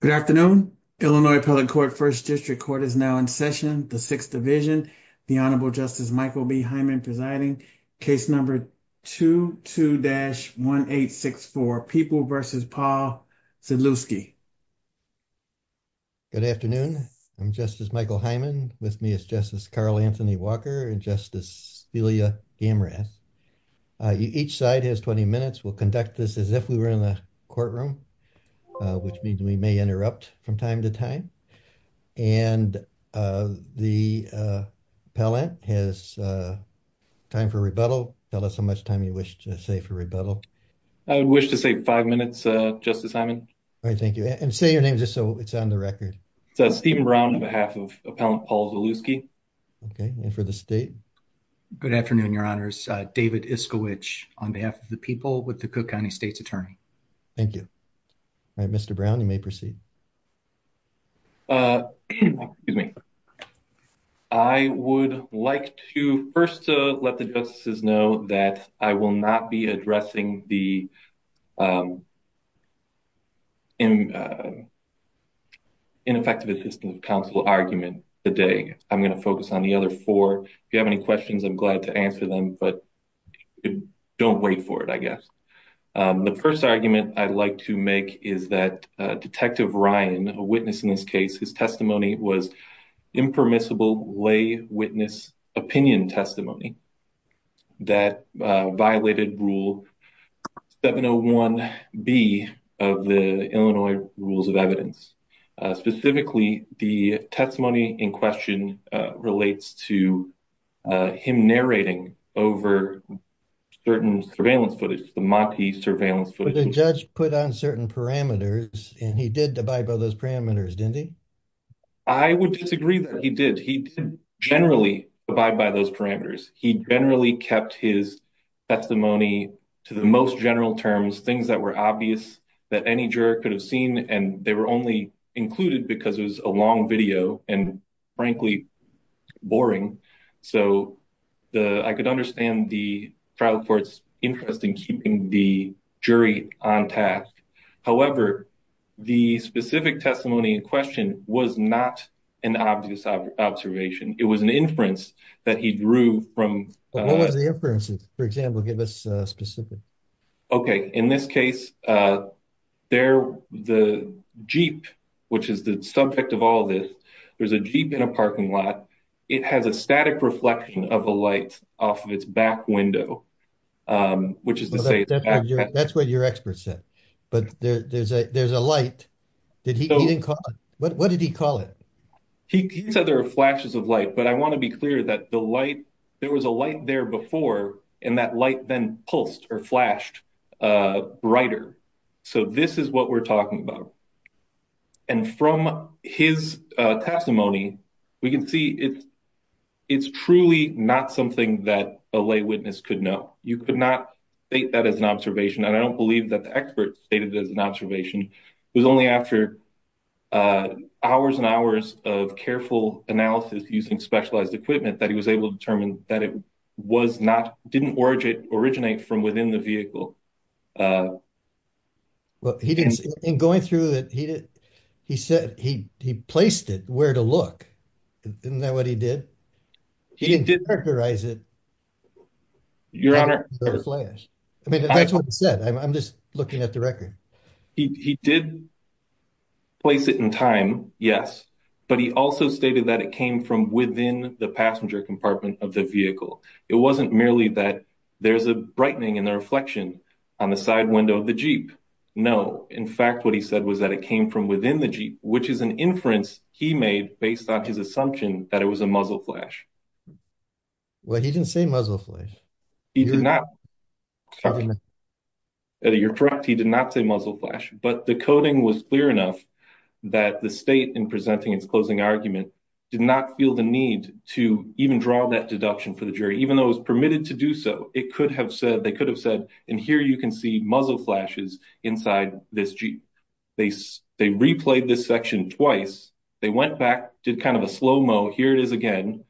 Good afternoon. Illinois Appellate Court, 1st District Court is now in session. The 6th Division, the Honorable Justice Michael B. Hyman presiding. Case number 22-1864, People v. Paul Zelewski. Good afternoon. I'm Justice Michael Hyman. With me is Justice Carl Anthony Walker and Justice Celia Gamras. Each side has 20 minutes. We'll conduct this as if we were in the courtroom, which means we may interrupt from time to time. And the appellant has time for rebuttal. Tell us how much time you wish to say for rebuttal. I would wish to say five minutes, Justice Hyman. All right, thank you. And say your name just so it's on the record. It's Stephen Brown on behalf of Appellant Paul Zelewski. Okay. And for the state? Good afternoon, Your Honors. David Iskowich on behalf of the people with the Cook County State's Attorney. Thank you. All right, Mr. Brown, you may proceed. Excuse me. I would like to first let the justices know that I will not be addressing the ineffective assistance counsel argument today. I'm going to focus on the other four. If you have any questions, I'm glad to answer them. But don't wait for it, I guess. The first argument I'd like to make is that Detective Ryan, a witness in this case, his testimony was impermissible lay witness opinion testimony that violated rule 701B of the Illinois Rules of Evidence. Specifically, the testimony in question relates to him narrating over certain surveillance footage, the Monti surveillance footage. But the judge put on certain parameters and he did abide by those parameters, didn't he? I would disagree that he did. He generally abide by those parameters. He generally kept his testimony to the most general terms, things that were obvious that any juror could have seen. And they were only included because it was a long video and, frankly, boring. So I could understand the trial court's interest in keeping the jury on task. However, the specific testimony in question was not an obvious observation. It was an inference that he drew from. What was the inference, for example, give us specific. OK, in this case, the jeep, which is the subject of all this, there's a jeep in a parking lot. It has a static reflection of a light off of its back window, which is to say. That's what your expert said. But there's a there's a light. Did he even call it? What did he call it? He said there are flashes of light. But I want to be clear that the light there was a light there before and that light then pulsed or flashed brighter. So this is what we're talking about. And from his testimony, we can see it's truly not something that a lay witness could know. You could not state that as an observation. And I don't believe that the experts stated it as an observation. It was only after hours and hours of careful analysis using specialized equipment that he was able to determine that it was not didn't originate from within the vehicle. But he didn't in going through that, he said he he placed it where to look. Isn't that what he did? He didn't characterize it. Your Honor, I mean, that's what I said, I'm just looking at the record. He did place it in time, yes, but he also stated that it came from within the passenger compartment of the vehicle. It wasn't merely that there's a brightening in the reflection on the side window of the Jeep. No, in fact, what he said was that it came from within the Jeep, which is an inference he made based on his assumption that it was a muzzle flash. Well, he didn't say muzzle flash. He did not. You're correct, he did not say muzzle flash, but the coding was clear enough that the state in presenting its closing argument did not feel the need to even draw that deduction for the jury, even though it was permitted to do so. It could have said they could have said, and here you can see muzzle flashes inside this Jeep. They replayed this section twice, they went back, did kind of a slow-mo, here it is again,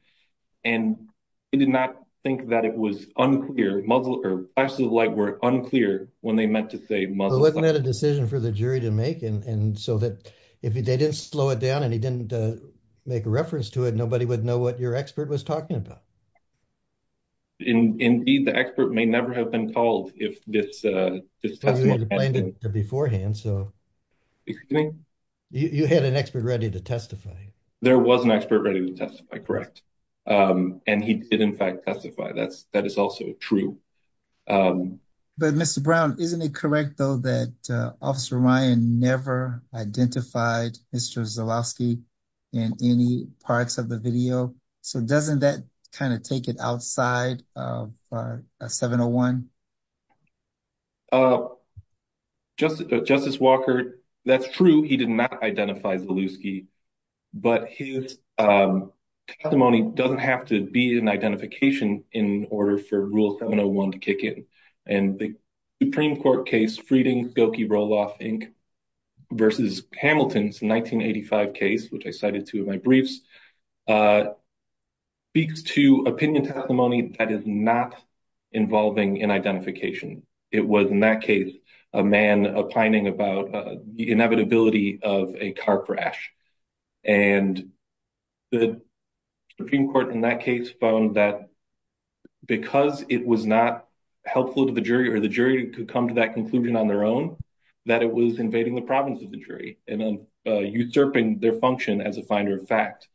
and they did not think that it was unclear, muzzle or flashes of light were unclear when they meant to say muzzle flash. Wasn't that a decision for the jury to make, and so that if they didn't slow it down and he didn't make a reference to it, nobody would know what your expert was talking about. Indeed, the expert may never have been called if this testimony hadn't been made. Beforehand, so you had an expert ready to testify. There was an expert ready to testify, correct? And he did, in fact, testify, that is also true. But Mr. Brown, isn't it correct, though, that Officer Ryan never identified Mr. Zelowski in any parts of the video? So doesn't that kind of take it outside of 701? Justice Walker, that's true, he did not identify Zelowski, but his testimony doesn't have to be an identification in order for Rule 701 to kick in. And the Supreme Court case, Frieden-Gilkey-Roloff, Inc., versus Hamilton's 1985 case, which I cited two of my briefs, speaks to opinion testimony that is not involving an identification. It was, in that case, a man opining about the inevitability of a car crash. And the Supreme Court, in that case, found that because it was not helpful to the jury or the jury could come to that conclusion on their own, that it was invading the province of the jury and usurping their function as a finder of fact.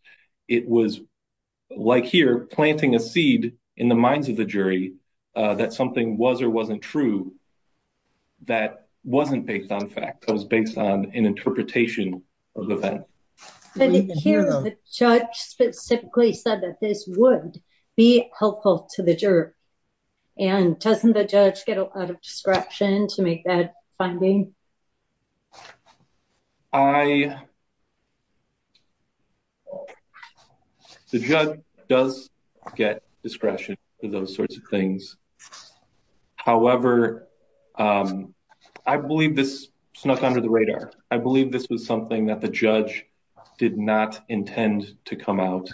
It was, like here, planting a seed in the minds of the jury that something was or wasn't true, that wasn't based on fact, that was based on an interpretation of the fact. But here, the judge specifically said that this would be helpful to the juror. And doesn't the judge get a lot of discretion to make that finding? I, the judge does get discretion for those sorts of things. However, I believe this snuck under the radar. I believe this was something that the judge did not intend to come out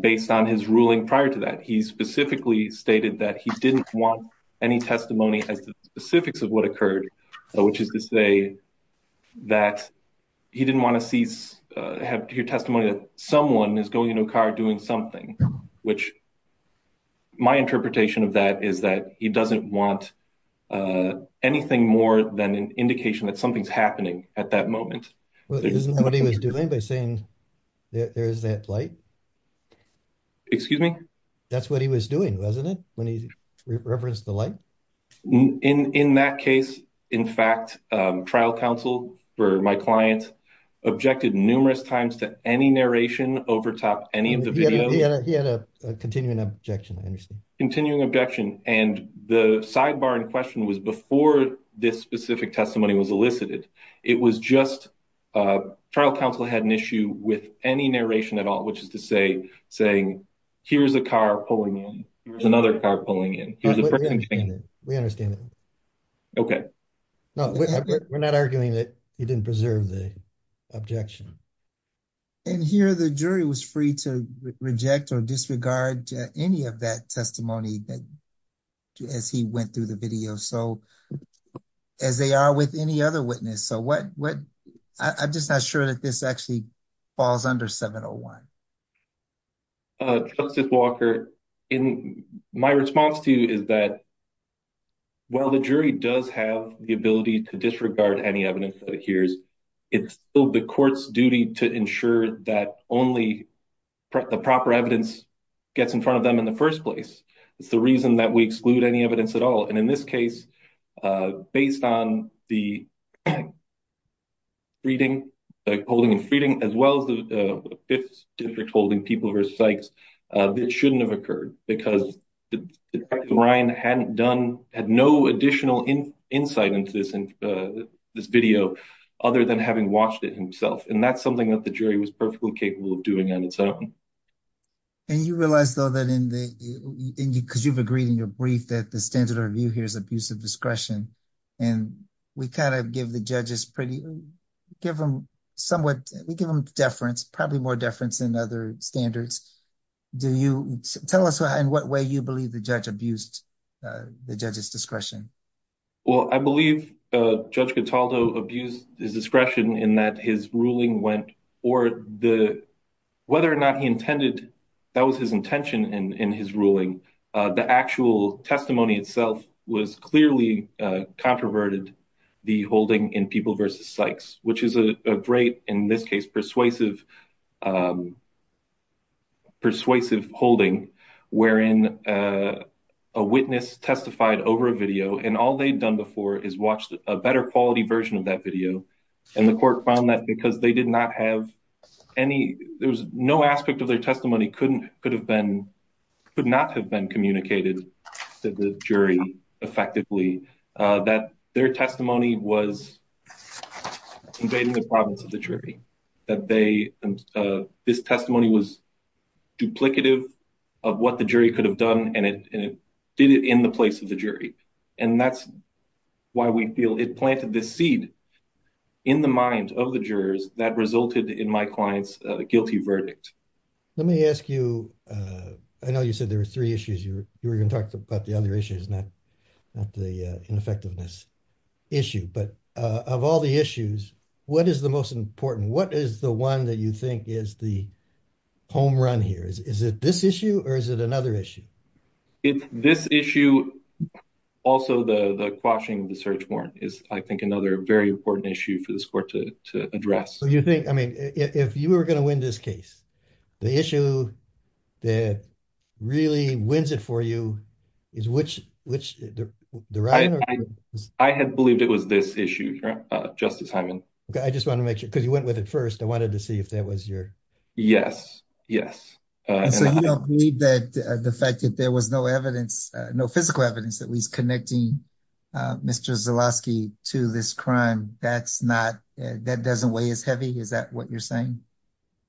based on his ruling prior to that. He specifically stated that he didn't want any testimony as to the specifics of what occurred, which is to say that he didn't want to have to hear testimony that someone is going into a car doing something, which my interpretation of that is that he doesn't want anything more than an indication that something's happening at that moment. Well, isn't that what he was doing by saying there is that light? Excuse me? That's what he was doing, wasn't it? When he referenced the light in that case, in fact, trial counsel for my client objected numerous times to any narration overtop any of the continuing objection. I understand continuing objection and the sidebar in question was before this specific testimony was elicited. It was just trial counsel had an issue with any narration at all, which is to say, saying, here's a car pulling in. Here's another car pulling in. We understand that. Okay. No, we're not arguing that he didn't preserve the objection. And here, the jury was free to reject or disregard any of that testimony that. As he went through the video, so as they are with any other witness, so what I'm just not sure that this actually falls under 701. Justice Walker in my response to you is that. Well, the jury does have the ability to disregard any evidence that it hears. It's still the court's duty to ensure that only the proper evidence gets in front of them in the 1st place. It's the reason that we exclude any evidence at all. And in this case, based on the. Reading holding and feeding as well as the 5th district holding people versus sites that shouldn't have occurred because the Ryan hadn't done had no additional insight into this video other than having watched it himself. And that's something that the jury was perfectly capable of doing on its own. And you realize, though, that in the, because you've agreed in your brief that the standard review here is abusive discretion. And we kind of give the judges pretty give them somewhat we give them deference, probably more deference than other standards. Do you tell us in what way you believe the judge abused the judges discretion? Well, I believe judge Gataldo abused his discretion in that his ruling went or the. Whether or not he intended that was his intention in his ruling. The actual testimony itself was clearly controverted the holding in people versus sites, which is a great in this case persuasive. Persuasive holding, wherein a witness testified over a video, and all they've done before is watched a better quality version of that video and the court found that because they did not have any, there was no aspect of their testimony. Couldn't could have been could not have been communicated to the jury effectively that their testimony was. Invading the province of the jury that they this testimony was. Duplicative of what the jury could have done, and it did it in the place of the jury. And that's why we feel it planted this seed in the mind of the jurors that resulted in my client's guilty verdict. Let me ask you, I know you said there were 3 issues you were going to talk about. The other issue is not not the ineffectiveness issue, but of all the issues. What is the most important? What is the 1 that you think is the. Home run here is is it this issue or is it another issue? It's this issue also the quashing of the search warrant is, I think, another very important issue for this court to address. You think, I mean, if you were going to win this case. The issue that really wins it for you. Is which, which I had believed it was this issue. Justice, I just want to make sure because you went with it 1st. I wanted to see if that was your. Yes, yes. So you don't believe that the fact that there was no evidence, no physical evidence that he's connecting. Mr to this crime, that's not that doesn't weigh as heavy. Is that what you're saying?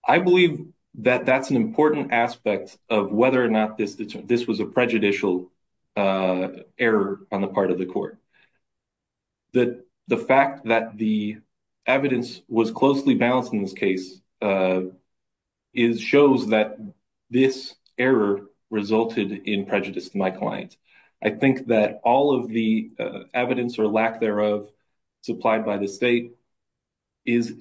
I believe that that's an important aspect of whether or not this, this was a prejudicial. Error on the part of the court. That the fact that the evidence was closely balanced in this case. Is shows that this error resulted in prejudice to my client. I think that all of the evidence or lack thereof. Supplied by the state is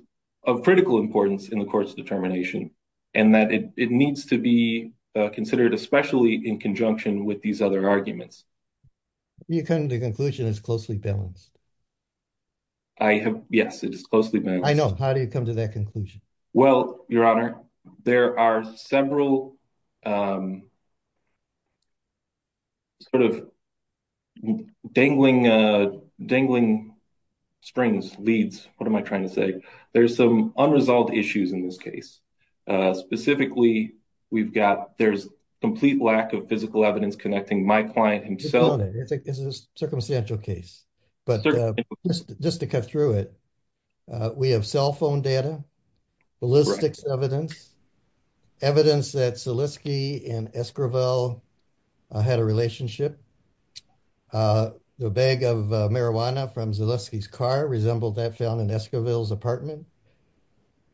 of critical importance in the court's determination. And that it needs to be considered, especially in conjunction with these other arguments. You can the conclusion is closely balanced. I have yes, it is closely. I know how do you come to that conclusion? Well, your honor, there are several. Of dangling dangling. Springs leads what am I trying to say? There's some unresolved issues in this case. Specifically, we've got there's complete lack of physical evidence connecting my client himself. And it's a circumstantial case. But just to cut through it. We have cell phone data. Ballistics evidence. Evidence that and. I had a relationship. The bag of marijuana from his car resembled that found in his apartment.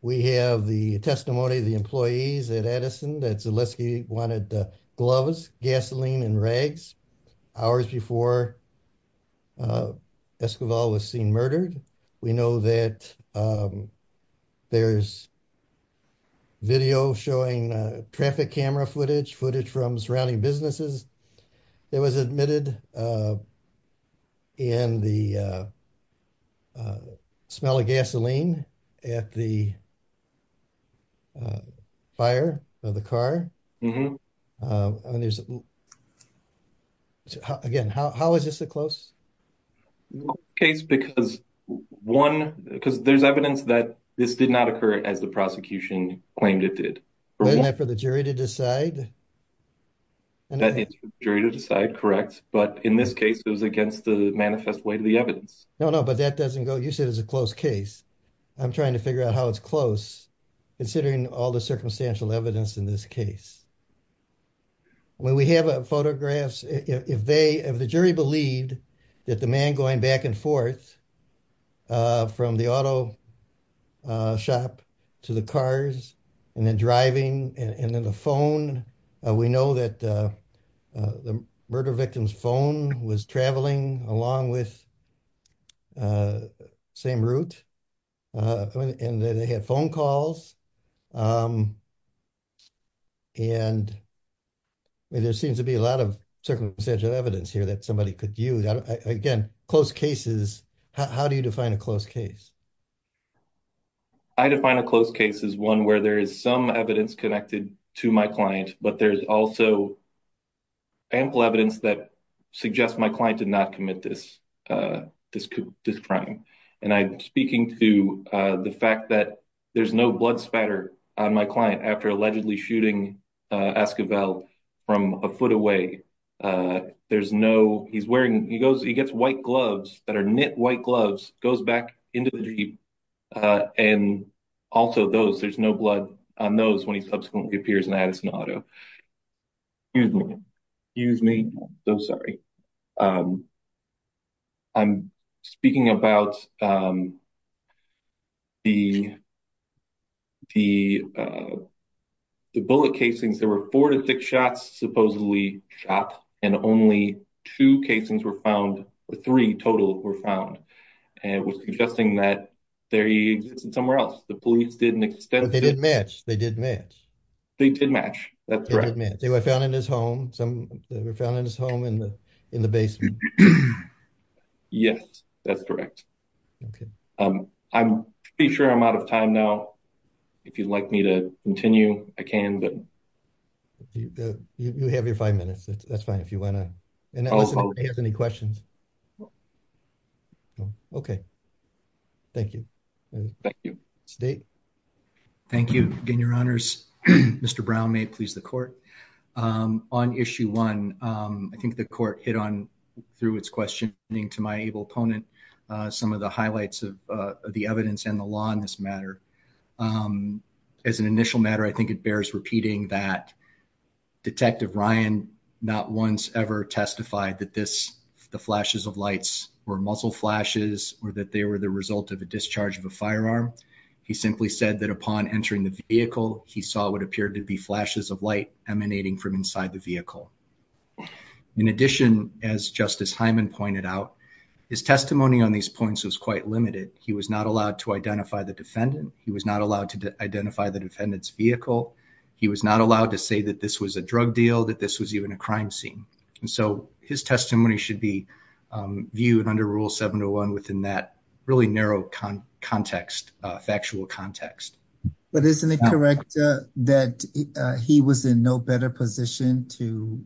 We have the testimony of the employees at Edison that wanted the gloves, gasoline and rags. Hours before. Escobar was seen murdered. We know that. There's. Video showing traffic camera footage, footage from surrounding businesses. It was admitted. In the. Smell of gasoline at the. Fire of the car. Again, how is this a close? Well, case, because 1, because there's evidence that this did not occur as the prosecution claimed it did for the jury to decide. And that jury to decide correct. But in this case, it was against the manifest way to the evidence. No, no, but that doesn't go. You said it's a close case. I'm trying to figure out how it's close. Considering all the circumstantial evidence in this case. When we have a photographs, if they have the jury believed that the man going back and forth. From the auto. Shop to the cars and then driving and then the phone. We know that. The murder victims phone was traveling along with. Same route. And they had phone calls. Um. And. There seems to be a lot of circumstantial evidence here that somebody could use again. Close cases. How do you define a close case? I define a close case is 1 where there is some evidence connected to my client, but there's also. Ample evidence that suggest my client did not commit this. This crime, and I'm speaking to the fact that. There's no blood spatter on my client after allegedly shooting. Ask about from a foot away. There's no he's wearing. He goes, he gets white gloves that are knit white gloves goes back into the. And also those there's no blood on those when he subsequently appears and adds an auto. Excuse me. Use me. So sorry. I'm speaking about. The. The. The bullet casings, there were 4 to 6 shots, supposedly shop and only 2 casings were found. 3 total were found. And it was suggesting that. There he is somewhere else. The police didn't extend. They didn't match. They didn't match. They didn't match. That's right. They were found in his home. Some were found in his home in the in the basement. Yes, that's correct. I'm pretty sure I'm out of time now. If you'd like me to continue, I can, but. You have your 5 minutes. That's fine. If you want to. And also, if you have any questions. Okay. Thank you. Thank you. State. Thank you. Again, your honors. Mr. Brown may please the court. On issue 1. I think the court hit on through its questioning to my able opponent. Some of the highlights of the evidence and the law in this matter. As an initial matter, I think it bears repeating that. Detective Ryan not once ever testified that this. The flashes of lights were muscle flashes or that they were the result of a discharge of a firearm. He simply said that upon entering the vehicle, he saw what appeared to be flashes of light emanating from inside the vehicle. In addition, as Justice Hyman pointed out. His testimony on these points was quite limited. He was not allowed to identify the defendant. He was not allowed to identify the defendant's vehicle. He was not allowed to say that this was a drug deal, that this was even a crime scene. And so his testimony should be. Viewed under rule 7 to 1 within that really narrow context, factual context. But isn't it correct that he was in no better position to.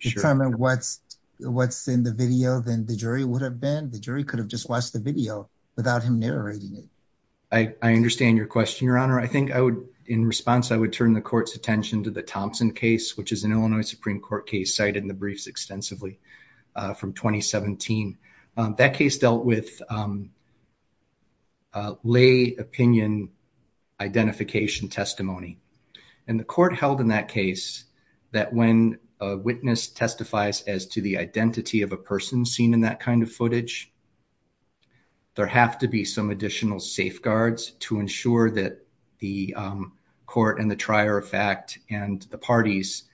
Determine what's what's in the video than the jury would have been. The jury could have just watched the video without him narrating it. I understand your question, Your Honor. I think I would in response. I would turn the court's attention to the Thompson case, which is an Illinois Supreme Court case cited in the briefs extensively from 2017. That case dealt with. Lay opinion identification testimony. And the court held in that case. That when a witness testifies as to the identity of a person seen in that kind of footage. There have to be some additional safeguards to ensure that. The court and the trier of fact and the parties.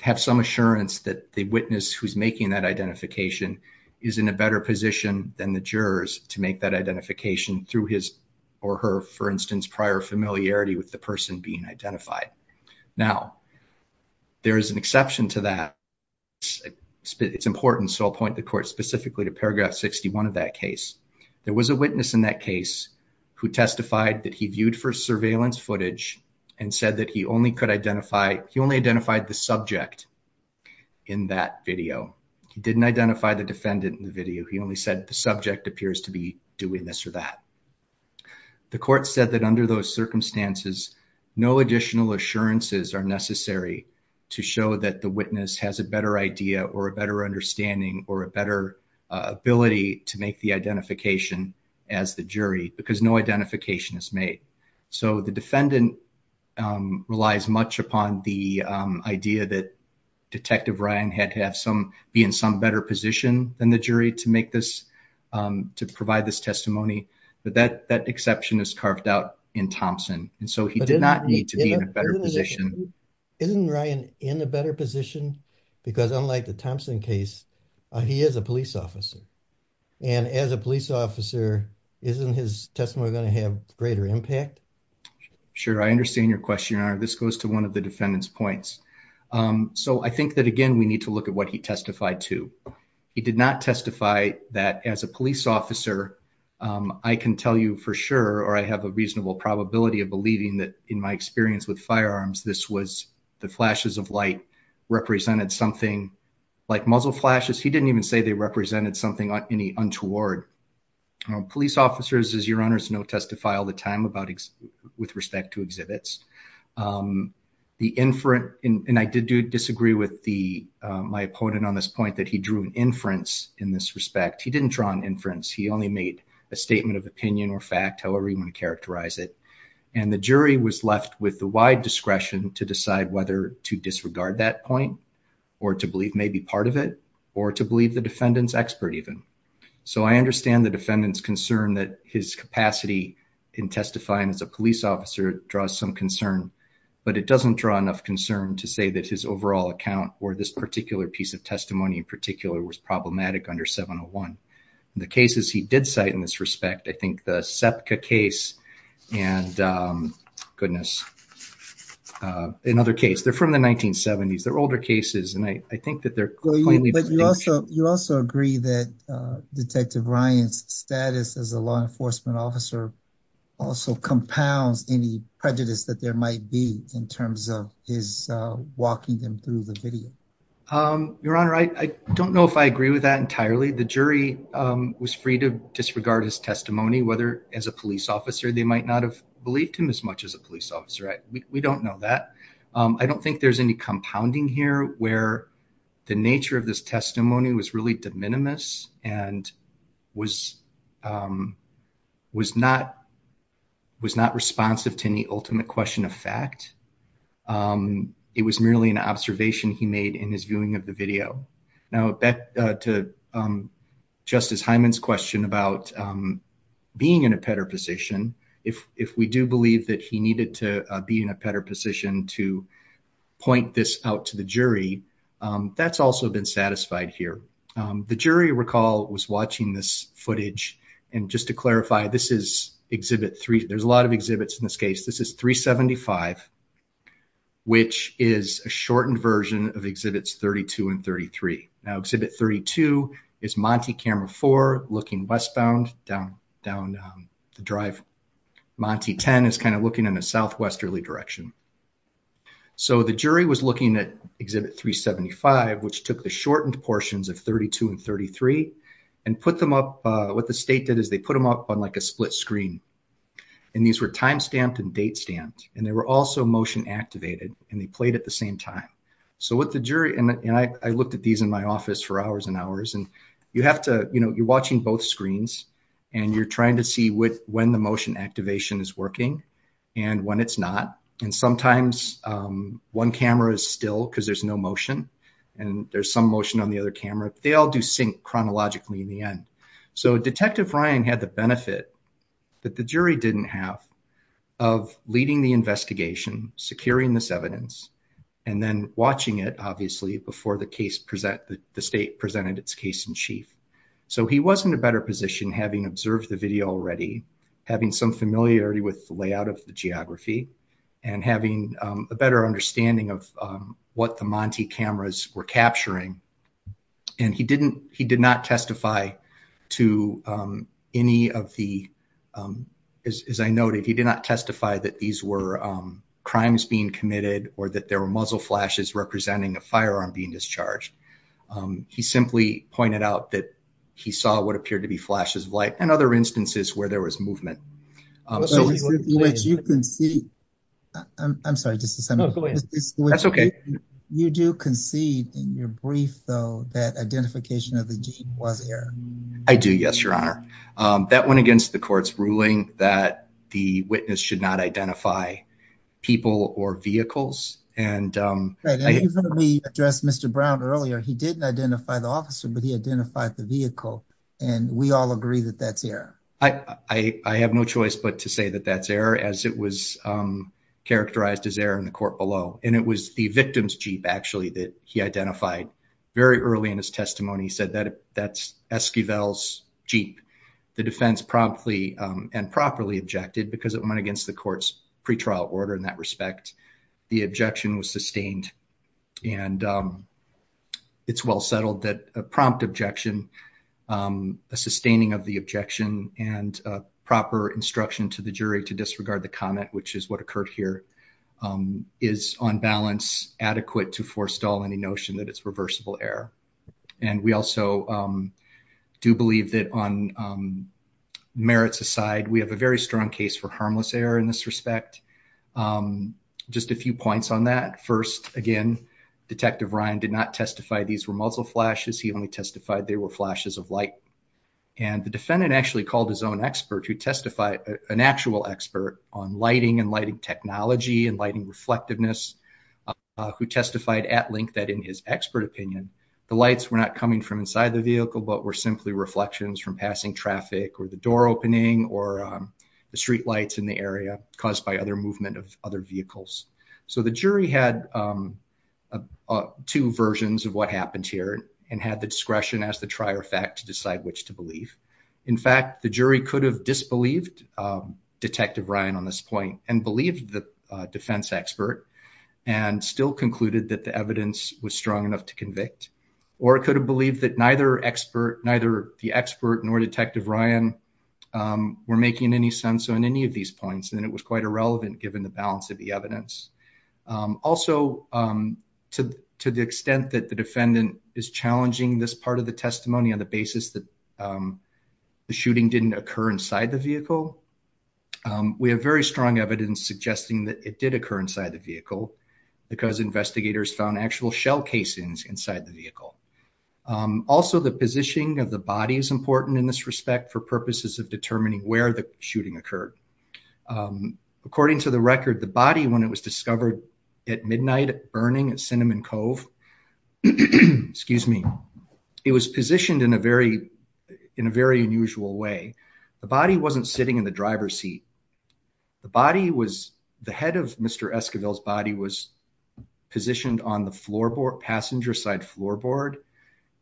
Have some assurance that the witness who's making that identification. Is in a better position than the jurors to make that identification through his. Or her, for instance, prior familiarity with the person being identified. Now, there is an exception to that. It's important. So I'll point the court specifically to paragraph 61 of that case. There was a witness in that case who testified that he viewed for surveillance footage. And said that he only could identify he only identified the subject. In that video, he didn't identify the defendant in the video. He only said the subject appears to be doing this or that. The court said that under those circumstances. No additional assurances are necessary. To show that the witness has a better idea or a better understanding or a better. Ability to make the identification as the jury because no identification is made. So the defendant relies much upon the idea that. Detective Ryan had have some be in some better position than the jury to make this. To provide this testimony. But that that exception is carved out in Thompson. And so he did not need to be in a better position. Isn't Ryan in a better position? Because unlike the Thompson case, he is a police officer. And as a police officer, isn't his testimony going to have greater impact? Sure, I understand your question. This goes to one of the defendant's points. So I think that again, we need to look at what he testified to. He did not testify that as a police officer. I can tell you for sure, or I have a reasonable probability of believing that. In my experience with firearms, this was the flashes of light. Represented something like muzzle flashes. He didn't even say they represented something any untoward. Police officers, as your honors know, testify all the time about. With respect to exhibits. Um, the inferent and I did disagree with the my opponent on this point that he drew an inference in this respect. He didn't draw an inference. He only made a statement of opinion or fact, however you want to characterize it. And the jury was left with the wide discretion to decide whether to disregard that point. Or to believe may be part of it or to believe the defendant's expert even. So I understand the defendant's concern that his capacity in testifying as a police officer draws some concern. But it doesn't draw enough concern to say that his overall account or this particular piece of testimony in particular was problematic under 701. The cases he did cite in this respect, I think the SEPCA case and goodness. In other case, they're from the 1970s. They're older cases, and I think that they're. You also agree that Detective Ryan's status as a law enforcement officer. Also compounds any prejudice that there might be in terms of his walking them through the video. Your Honor, I don't know if I agree with that entirely. The jury was free to disregard his testimony, whether as a police officer. They might not have believed him as much as a police officer. Right? We don't know that. I don't think there's any compounding here where the nature of this testimony was really de minimis and was not responsive to any ultimate question of fact. It was merely an observation he made in his viewing of the video. Now back to Justice Hyman's question about being in a better position. If we do believe that he needed to be in a better position to point this out to the jury, that's also been satisfied here. The jury, recall, was watching this footage. And just to clarify, this is Exhibit 3. There's a lot of exhibits in this case. This is 375, which is a shortened version of Exhibits 32 and 33. Now, Exhibit 32 is Monty Camera 4 looking westbound down the drive. Monty 10 is kind of looking in a southwesterly direction. So the jury was looking at Exhibit 375, which took the shortened portions of 32 and 33 and put them up, what the state did is they put them up on like a split screen. And these were time stamped and date stamped. And they were also motion activated. And they played at the same time. So what the jury, and I looked at these in my office for hours and hours. And you have to, you know, you're watching both screens. And you're trying to see when the motion activation is working and when it's not. And sometimes one camera is still because there's no motion. And there's some motion on the other camera. They all do sync chronologically in the end. So Detective Ryan had the benefit that the jury didn't have of leading the investigation, securing this evidence, and then watching it, obviously, before the case present, the state presented its case in chief. So he was in a better position having observed the video already, having some familiarity with the layout of the geography, and having a better understanding of what the Monty cameras were capturing. And he didn't, he did not testify to any of the, as I noted, he did not testify that these were crimes being committed, or that there were muzzle flashes representing a firearm being discharged. He simply pointed out that he saw what appeared to be flashes of light and other instances where there was movement. I'm sorry, just a second. That's okay. You do concede in your brief, though, that identification of the gene was error. I do, yes, Your Honor. That went against the court's ruling that the witness should not identify people or vehicles. And we addressed Mr. Brown earlier. He didn't identify the officer, but he identified the vehicle. And we all agree that that's error. I have no choice but to say that that's error, as it was characterized as error in the court below. And it was the victim's Jeep, actually, that he identified. Very early in his testimony, he said that that's Esquivel's Jeep. The defense promptly and properly objected because it went against the court's pretrial order in that respect. The objection was sustained. And it's well settled that a prompt objection a sustaining of the objection and proper instruction to the jury to disregard the comment, which is what occurred here, is on balance adequate to forestall any notion that it's reversible error. And we also do believe that on merits aside, we have a very strong case for harmless error in this respect. Just a few points on that. First, again, Detective Ryan did not testify these were muzzle flashes. He only testified they were flashes of light. And the defendant actually called his own expert who testified, an actual expert on lighting and lighting technology and lighting reflectiveness, who testified at length that in his expert opinion, the lights were not coming from inside the vehicle, but were simply reflections from passing traffic or the door opening or the streetlights in the area caused by other movement of other vehicles. So the jury had two versions of what happened here and had the discretion as the trier fact to decide which to believe. In fact, the jury could have disbelieved Detective Ryan on this point and believe the defense expert and still concluded that the evidence was strong enough to convict. Or it could have believed that neither expert, neither the expert nor Detective Ryan were making any sense on any of these points. And it was quite irrelevant given the balance of the evidence. Also, to the extent that the defendant is challenging this part of the testimony on the basis that the shooting didn't occur inside the vehicle, we have very strong evidence suggesting that it did occur inside the vehicle because investigators found actual shell casings inside the vehicle. Also, the positioning of the body is important in this respect for purposes of determining where the shooting occurred. According to the record, the body, when it was discovered at midnight burning at Cinnamon Cove, it was positioned in a very unusual way. The body wasn't sitting in the driver's seat. The head of Mr. Esquivel's body was positioned on the passenger side floorboard.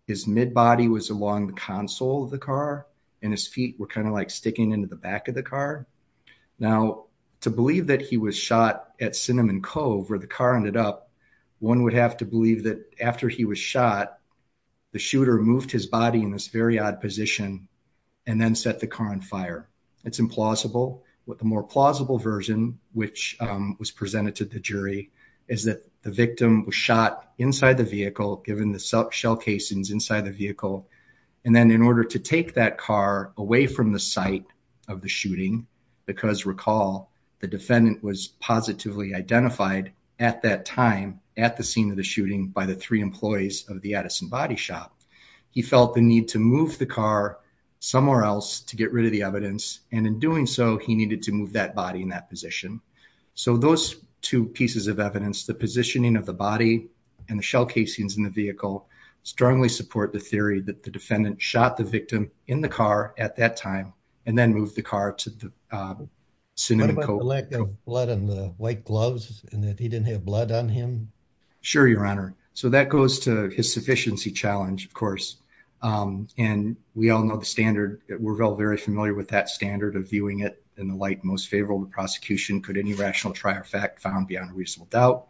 His mid-body was along the console of the car and his feet were kind of like sticking into the back of the car. Now, to believe that he was shot at Cinnamon Cove where the car ended up, one would have to believe that after he was shot, the shooter moved his body in this very odd position and then set the car on fire. It's implausible. What the more plausible version, which was presented to the jury, is that the victim was shot inside the vehicle, given the shell casings inside the vehicle. And then in order to take that car away from the site of the shooting, because recall, the defendant was positively identified at that time, at the scene of the shooting by the three employees of the Edison Body Shop, he felt the need to move the car somewhere else to get rid of the evidence. And in doing so, he needed to move that body in that position. So those two pieces of evidence, the positioning of the body and the shell casings in the vehicle, strongly support the theory that the defendant shot the victim in the car at that time and then moved the car to the Cinnamon Cove. What about the lack of blood on the white gloves and that he didn't have blood on him? Sure, your honor. So that goes to his sufficiency challenge, of course. And we all know the standard, we're all very familiar with that standard of viewing it in the light most favorable to prosecution. Could any rational trier fact found beyond a reasonable doubt,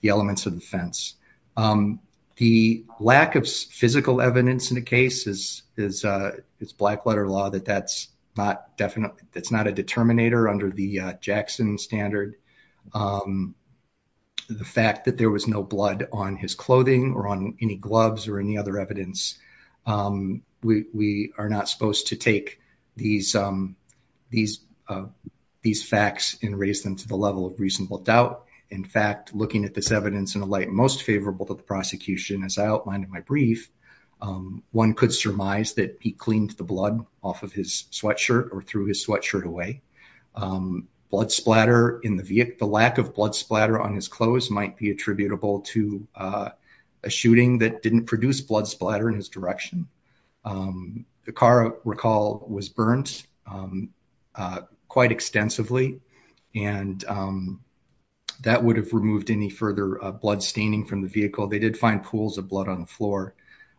the elements of the fence. The lack of physical evidence in the case is black letter law, that that's not a determinator under the Jackson standard. The fact that there was no blood on his clothing or on any gloves or any other evidence. We are not supposed to take these facts and raise them to the level of reasonable doubt. In fact, looking at this evidence in the light most favorable to the prosecution, as I outlined in my brief, one could surmise that he cleaned the blood off of his sweatshirt or threw his sweatshirt away. Blood splatter in the vehicle, the lack of blood splatter on his clothes might be attributable to a shooting that didn't produce blood splatter in his direction. The car recall was burnt quite extensively. And that would have removed any further blood staining from the vehicle. They did find pools of blood on the floor.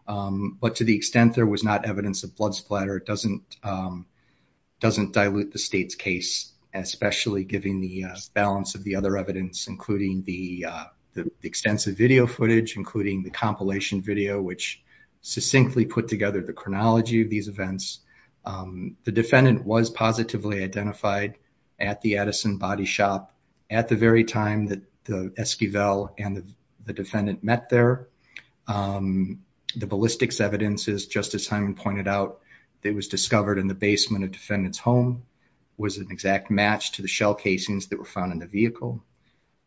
But to the extent there was not evidence of blood splatter, it doesn't dilute the state's case, especially given the balance of the other evidence, including the extensive video footage, including the compilation video, which succinctly put together the chronology of these events. The defendant was positively identified at the Addison Body Shop at the very time that the Esquivel and the defendant met there. The ballistics evidence, as Justice Hyman pointed out, that was discovered in the basement of defendant's home was an exact match to the shell casings that were found in the vehicle.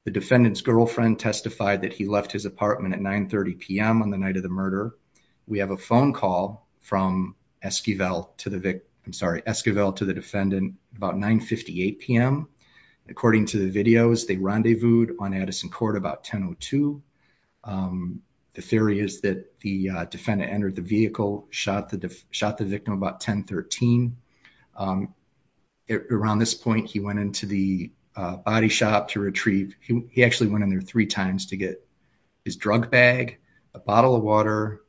The defendant's girlfriend testified that he left his apartment at 9.30 p.m. on the night of the murder. We have a phone call from Esquivel to the victim. I'm sorry, Esquivel to the defendant about 9.58 p.m. According to the videos, they rendezvoused on Addison Court about 10.02. The theory is that the defendant entered the vehicle, shot the shot the victim about 10.13. Around this point, he went into the body shop to retrieve. He actually went in there three times to get his drug bag, a bottle of water,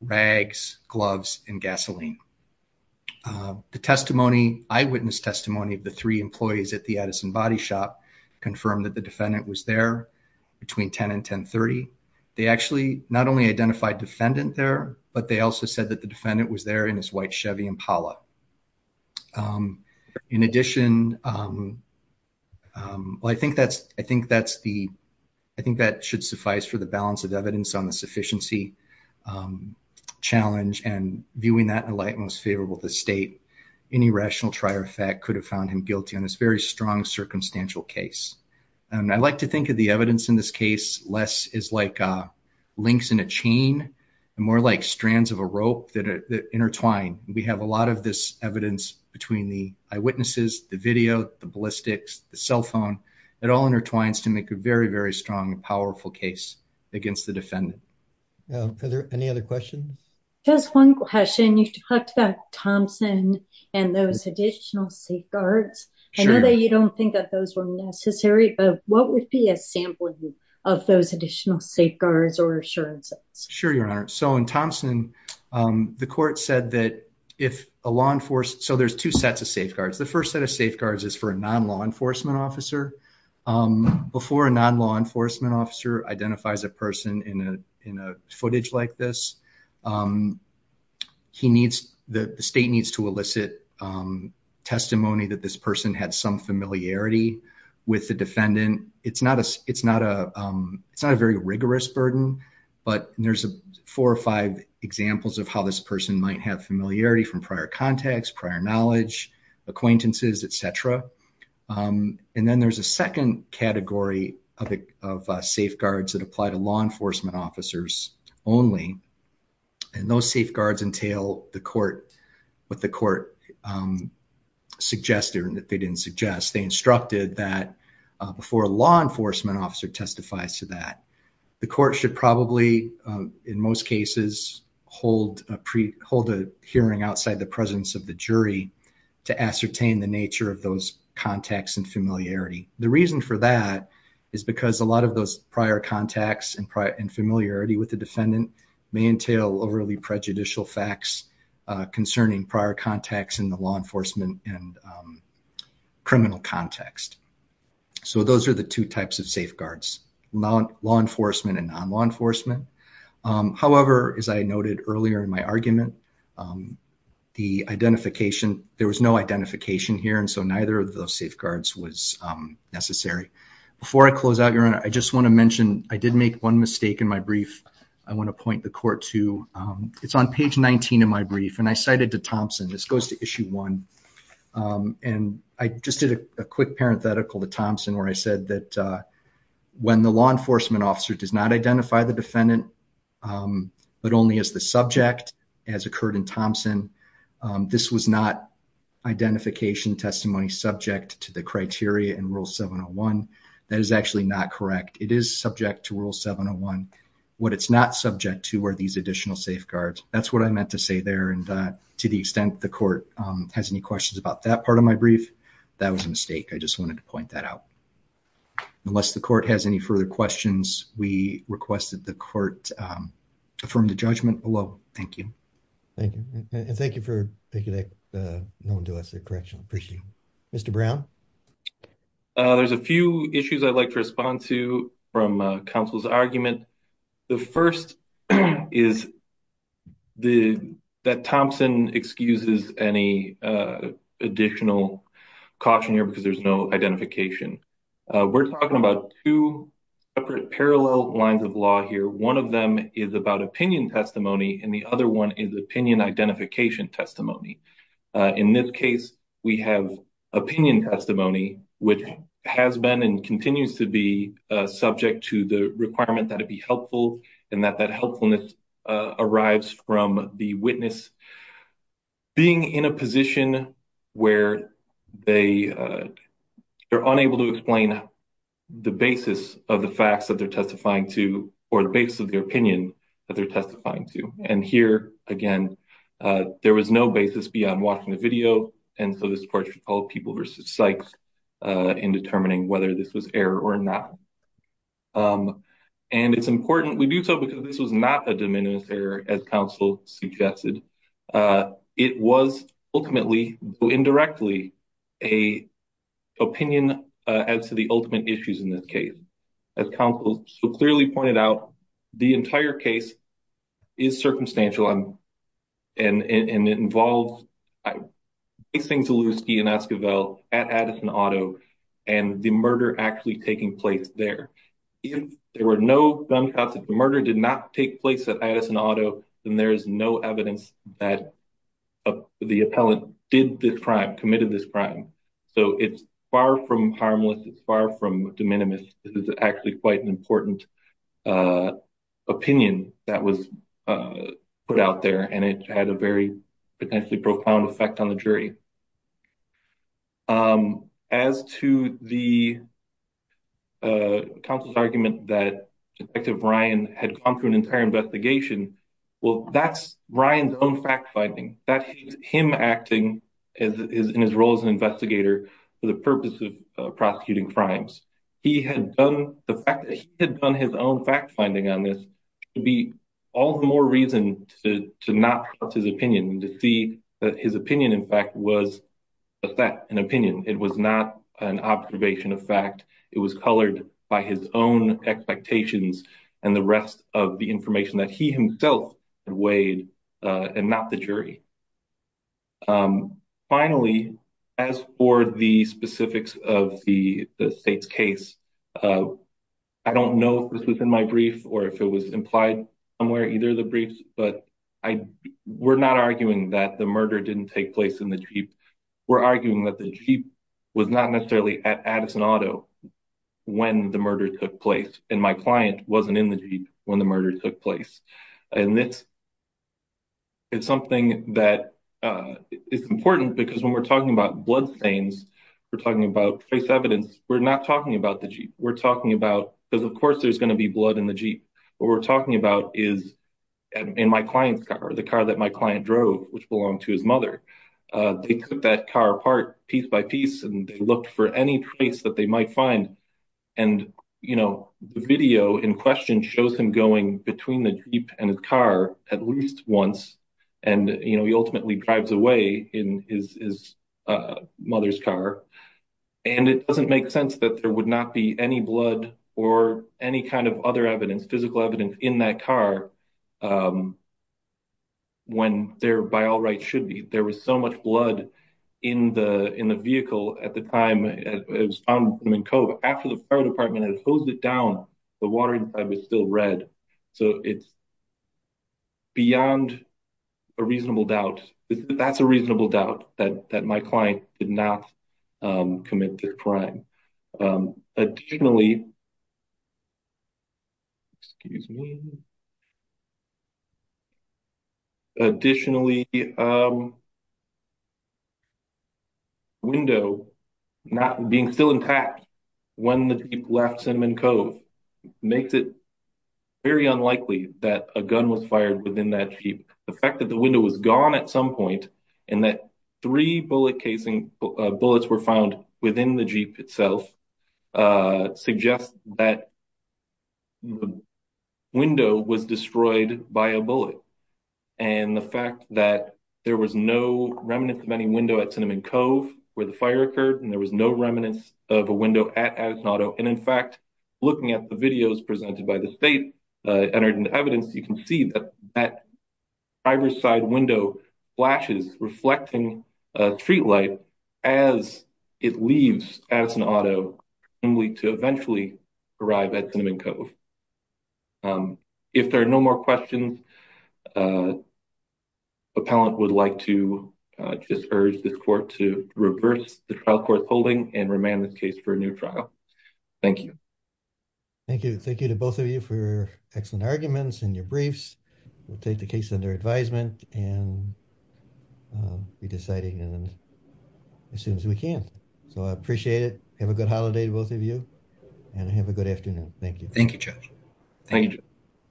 rags, gloves, and gasoline. The eyewitness testimony of the three employees at the Addison Body Shop confirmed that the defendant was there between 10.00 and 10.30. They actually not only identified defendant there, but they also said that the defendant was there in his white Chevy Impala. In addition, I think that should suffice for the balance of evidence on the sufficiency challenge and viewing that in a light most favorable to state. Any rational trier of fact could have found him guilty on this very strong circumstantial case. I like to think of the evidence in this case less as links in a chain, and more like strands of a rope that intertwine. We have a lot of this evidence between the eyewitnesses, the video, the ballistics, the cell phone, it all intertwines to make a very, very strong, powerful case against the defendant. Are there any other questions? Just one question. You talked about Thompson and those additional safeguards. I know that you don't think that those were necessary, but what would be a sampling of those additional safeguards or assurances? Sure, Your Honor. In Thompson, the court said that if a law enforcement... There's two sets of safeguards. The first set of safeguards is for a non-law enforcement officer. Before a non-law enforcement officer identifies a person in a footage like this, the state needs to elicit testimony that this person had some familiarity with the defendant. It's not a very rigorous burden, but there's four or five examples of how this person might have familiarity from prior contacts, prior knowledge, acquaintances, et cetera. Then there's a second category of safeguards that apply to law enforcement officers only. Those safeguards entail what the court suggested that they didn't suggest. They instructed that before a law enforcement officer testifies to that, the court should probably, in most cases, hold a hearing outside the presence of the jury to ascertain the nature of those contacts and familiarity. The reason for that is because a lot of those prior contacts and familiarity with the defendant may entail overly prejudicial facts concerning prior contacts in the law enforcement and criminal context. Those are the two types of safeguards, law enforcement and non-law enforcement. However, as I noted earlier in my argument, there was no identification here, and so neither of those safeguards was necessary. Before I close out, Your Honor, I just want to mention, I did make one mistake in my brief. I want to point the court to, it's on page 19 of my brief, and I cited to Thompson, this goes to issue one, and I just did a quick parenthetical to Thompson where I said that when the law enforcement officer does not identify the defendant, but only as the subject, as occurred in Thompson, this was not identification testimony subject to the criteria in Rule 701. That is actually not correct. It is subject to Rule 701. What it's not subject to are these additional safeguards. That's what I meant to say there, and to the extent the court has any questions about that part of my brief, that was a mistake. I just wanted to point that out. Unless the court has any further questions, we request that the court affirm the judgment below. Thank you. Thank you, and thank you for taking that known to us correction. I appreciate it. Mr. Brown? There's a few issues I'd like to respond to from counsel's argument. The first is that Thompson excuses any additional caution here because there's no identification. We're talking about two separate parallel lines of law here. One of them is about opinion testimony, and the other one is opinion identification testimony. In this case, we have opinion testimony, which has been and continues to be subject to the requirement that it be helpful, and that that helpfulness arrives from the witness being in a position where they're unable to explain the basis of the facts that they're testifying to, or the basis of their opinion that they're testifying to. And here, again, there was no basis beyond watching the video, and so this part should call people versus psychs in determining whether this was error or not. And it's important. We do so because this was not a de minimis error, as counsel suggested. It was ultimately, though indirectly, an opinion as to the ultimate issues in this case. As counsel so clearly pointed out, the entire case is circumstantial, and it involves facing Zalewski and Esquivel at Addison Auto and the murder actually taking place there. If there were no gunshots, if the murder did not take place at Addison Auto, then there is no evidence that the appellant did this crime, committed this crime. So it's far from harmless. It's far from de minimis. This is actually quite an important opinion that was put out there, and it had a very potentially profound effect on the jury. As to the counsel's argument that Detective Ryan had gone through an entire investigation, well, that's Ryan's own fact-finding. That is him acting in his role as an investigator for the purpose of prosecuting crimes. He had done the fact that he had done his own fact-finding on this to be all the more reason to not trust his opinion, to see that his opinion, in fact, was not true. It was a fact, an opinion. It was not an observation of fact. It was colored by his own expectations and the rest of the information that he himself had weighed and not the jury. Finally, as for the specifics of the state's case, I don't know if this was in my brief or if it was implied somewhere, either of the briefs, but we're not arguing that the murder didn't take place in the Jeep. We're arguing that the Jeep was not necessarily at Addison Auto when the murder took place and my client wasn't in the Jeep when the murder took place. It's something that is important because when we're talking about bloodstains, we're talking about face evidence. We're not talking about the Jeep. We're talking about, because of course there's going to be blood in the Jeep. What we're talking about is in my client's car, the car that my client drove, which belonged to his mother. They took that car apart piece by piece and they looked for any trace that they might find and the video in question shows him going between the Jeep and his car at least once and he ultimately drives away in his mother's car and it doesn't make sense that there would not be any blood or any kind of other evidence, physical evidence in that car when there by all rights should be. There was so much blood in the vehicle at the time. It was found in a cove after the fire department had hosed it down. The water inside was still red. So it's beyond a reasonable doubt. That's a reasonable doubt that my client did not commit the crime. Additionally, excuse me. Additionally, the window not being still intact when the Jeep left Cinnamon Cove makes it very unlikely that a gun was fired within that Jeep. The fact that the window was gone at some point and that three bullet casing bullets were found within the Jeep itself suggests that the window was destroyed by a bullet and the fact that there was no remnant of any window at Cinnamon Cove where the fire occurred and there was no remnant of a window at Addis Auto and in fact, looking at the videos presented by the state entered into evidence, you can see that driver's side window flashes reflecting street light as it leaves Addis Auto only to eventually arrive at Cinnamon Cove. If there are no more questions, the appellant would like to just urge this court to reverse the trial court holding and remand this case for a new trial. Thank you. Thank you. Thank you to both of you for your excellent arguments and your briefs. We'll take the case under advisement and be deciding on it as soon as we can. So I appreciate it. Have a good holiday to both of you and have a good afternoon. Thank you. Thank you, Judge. Thank you.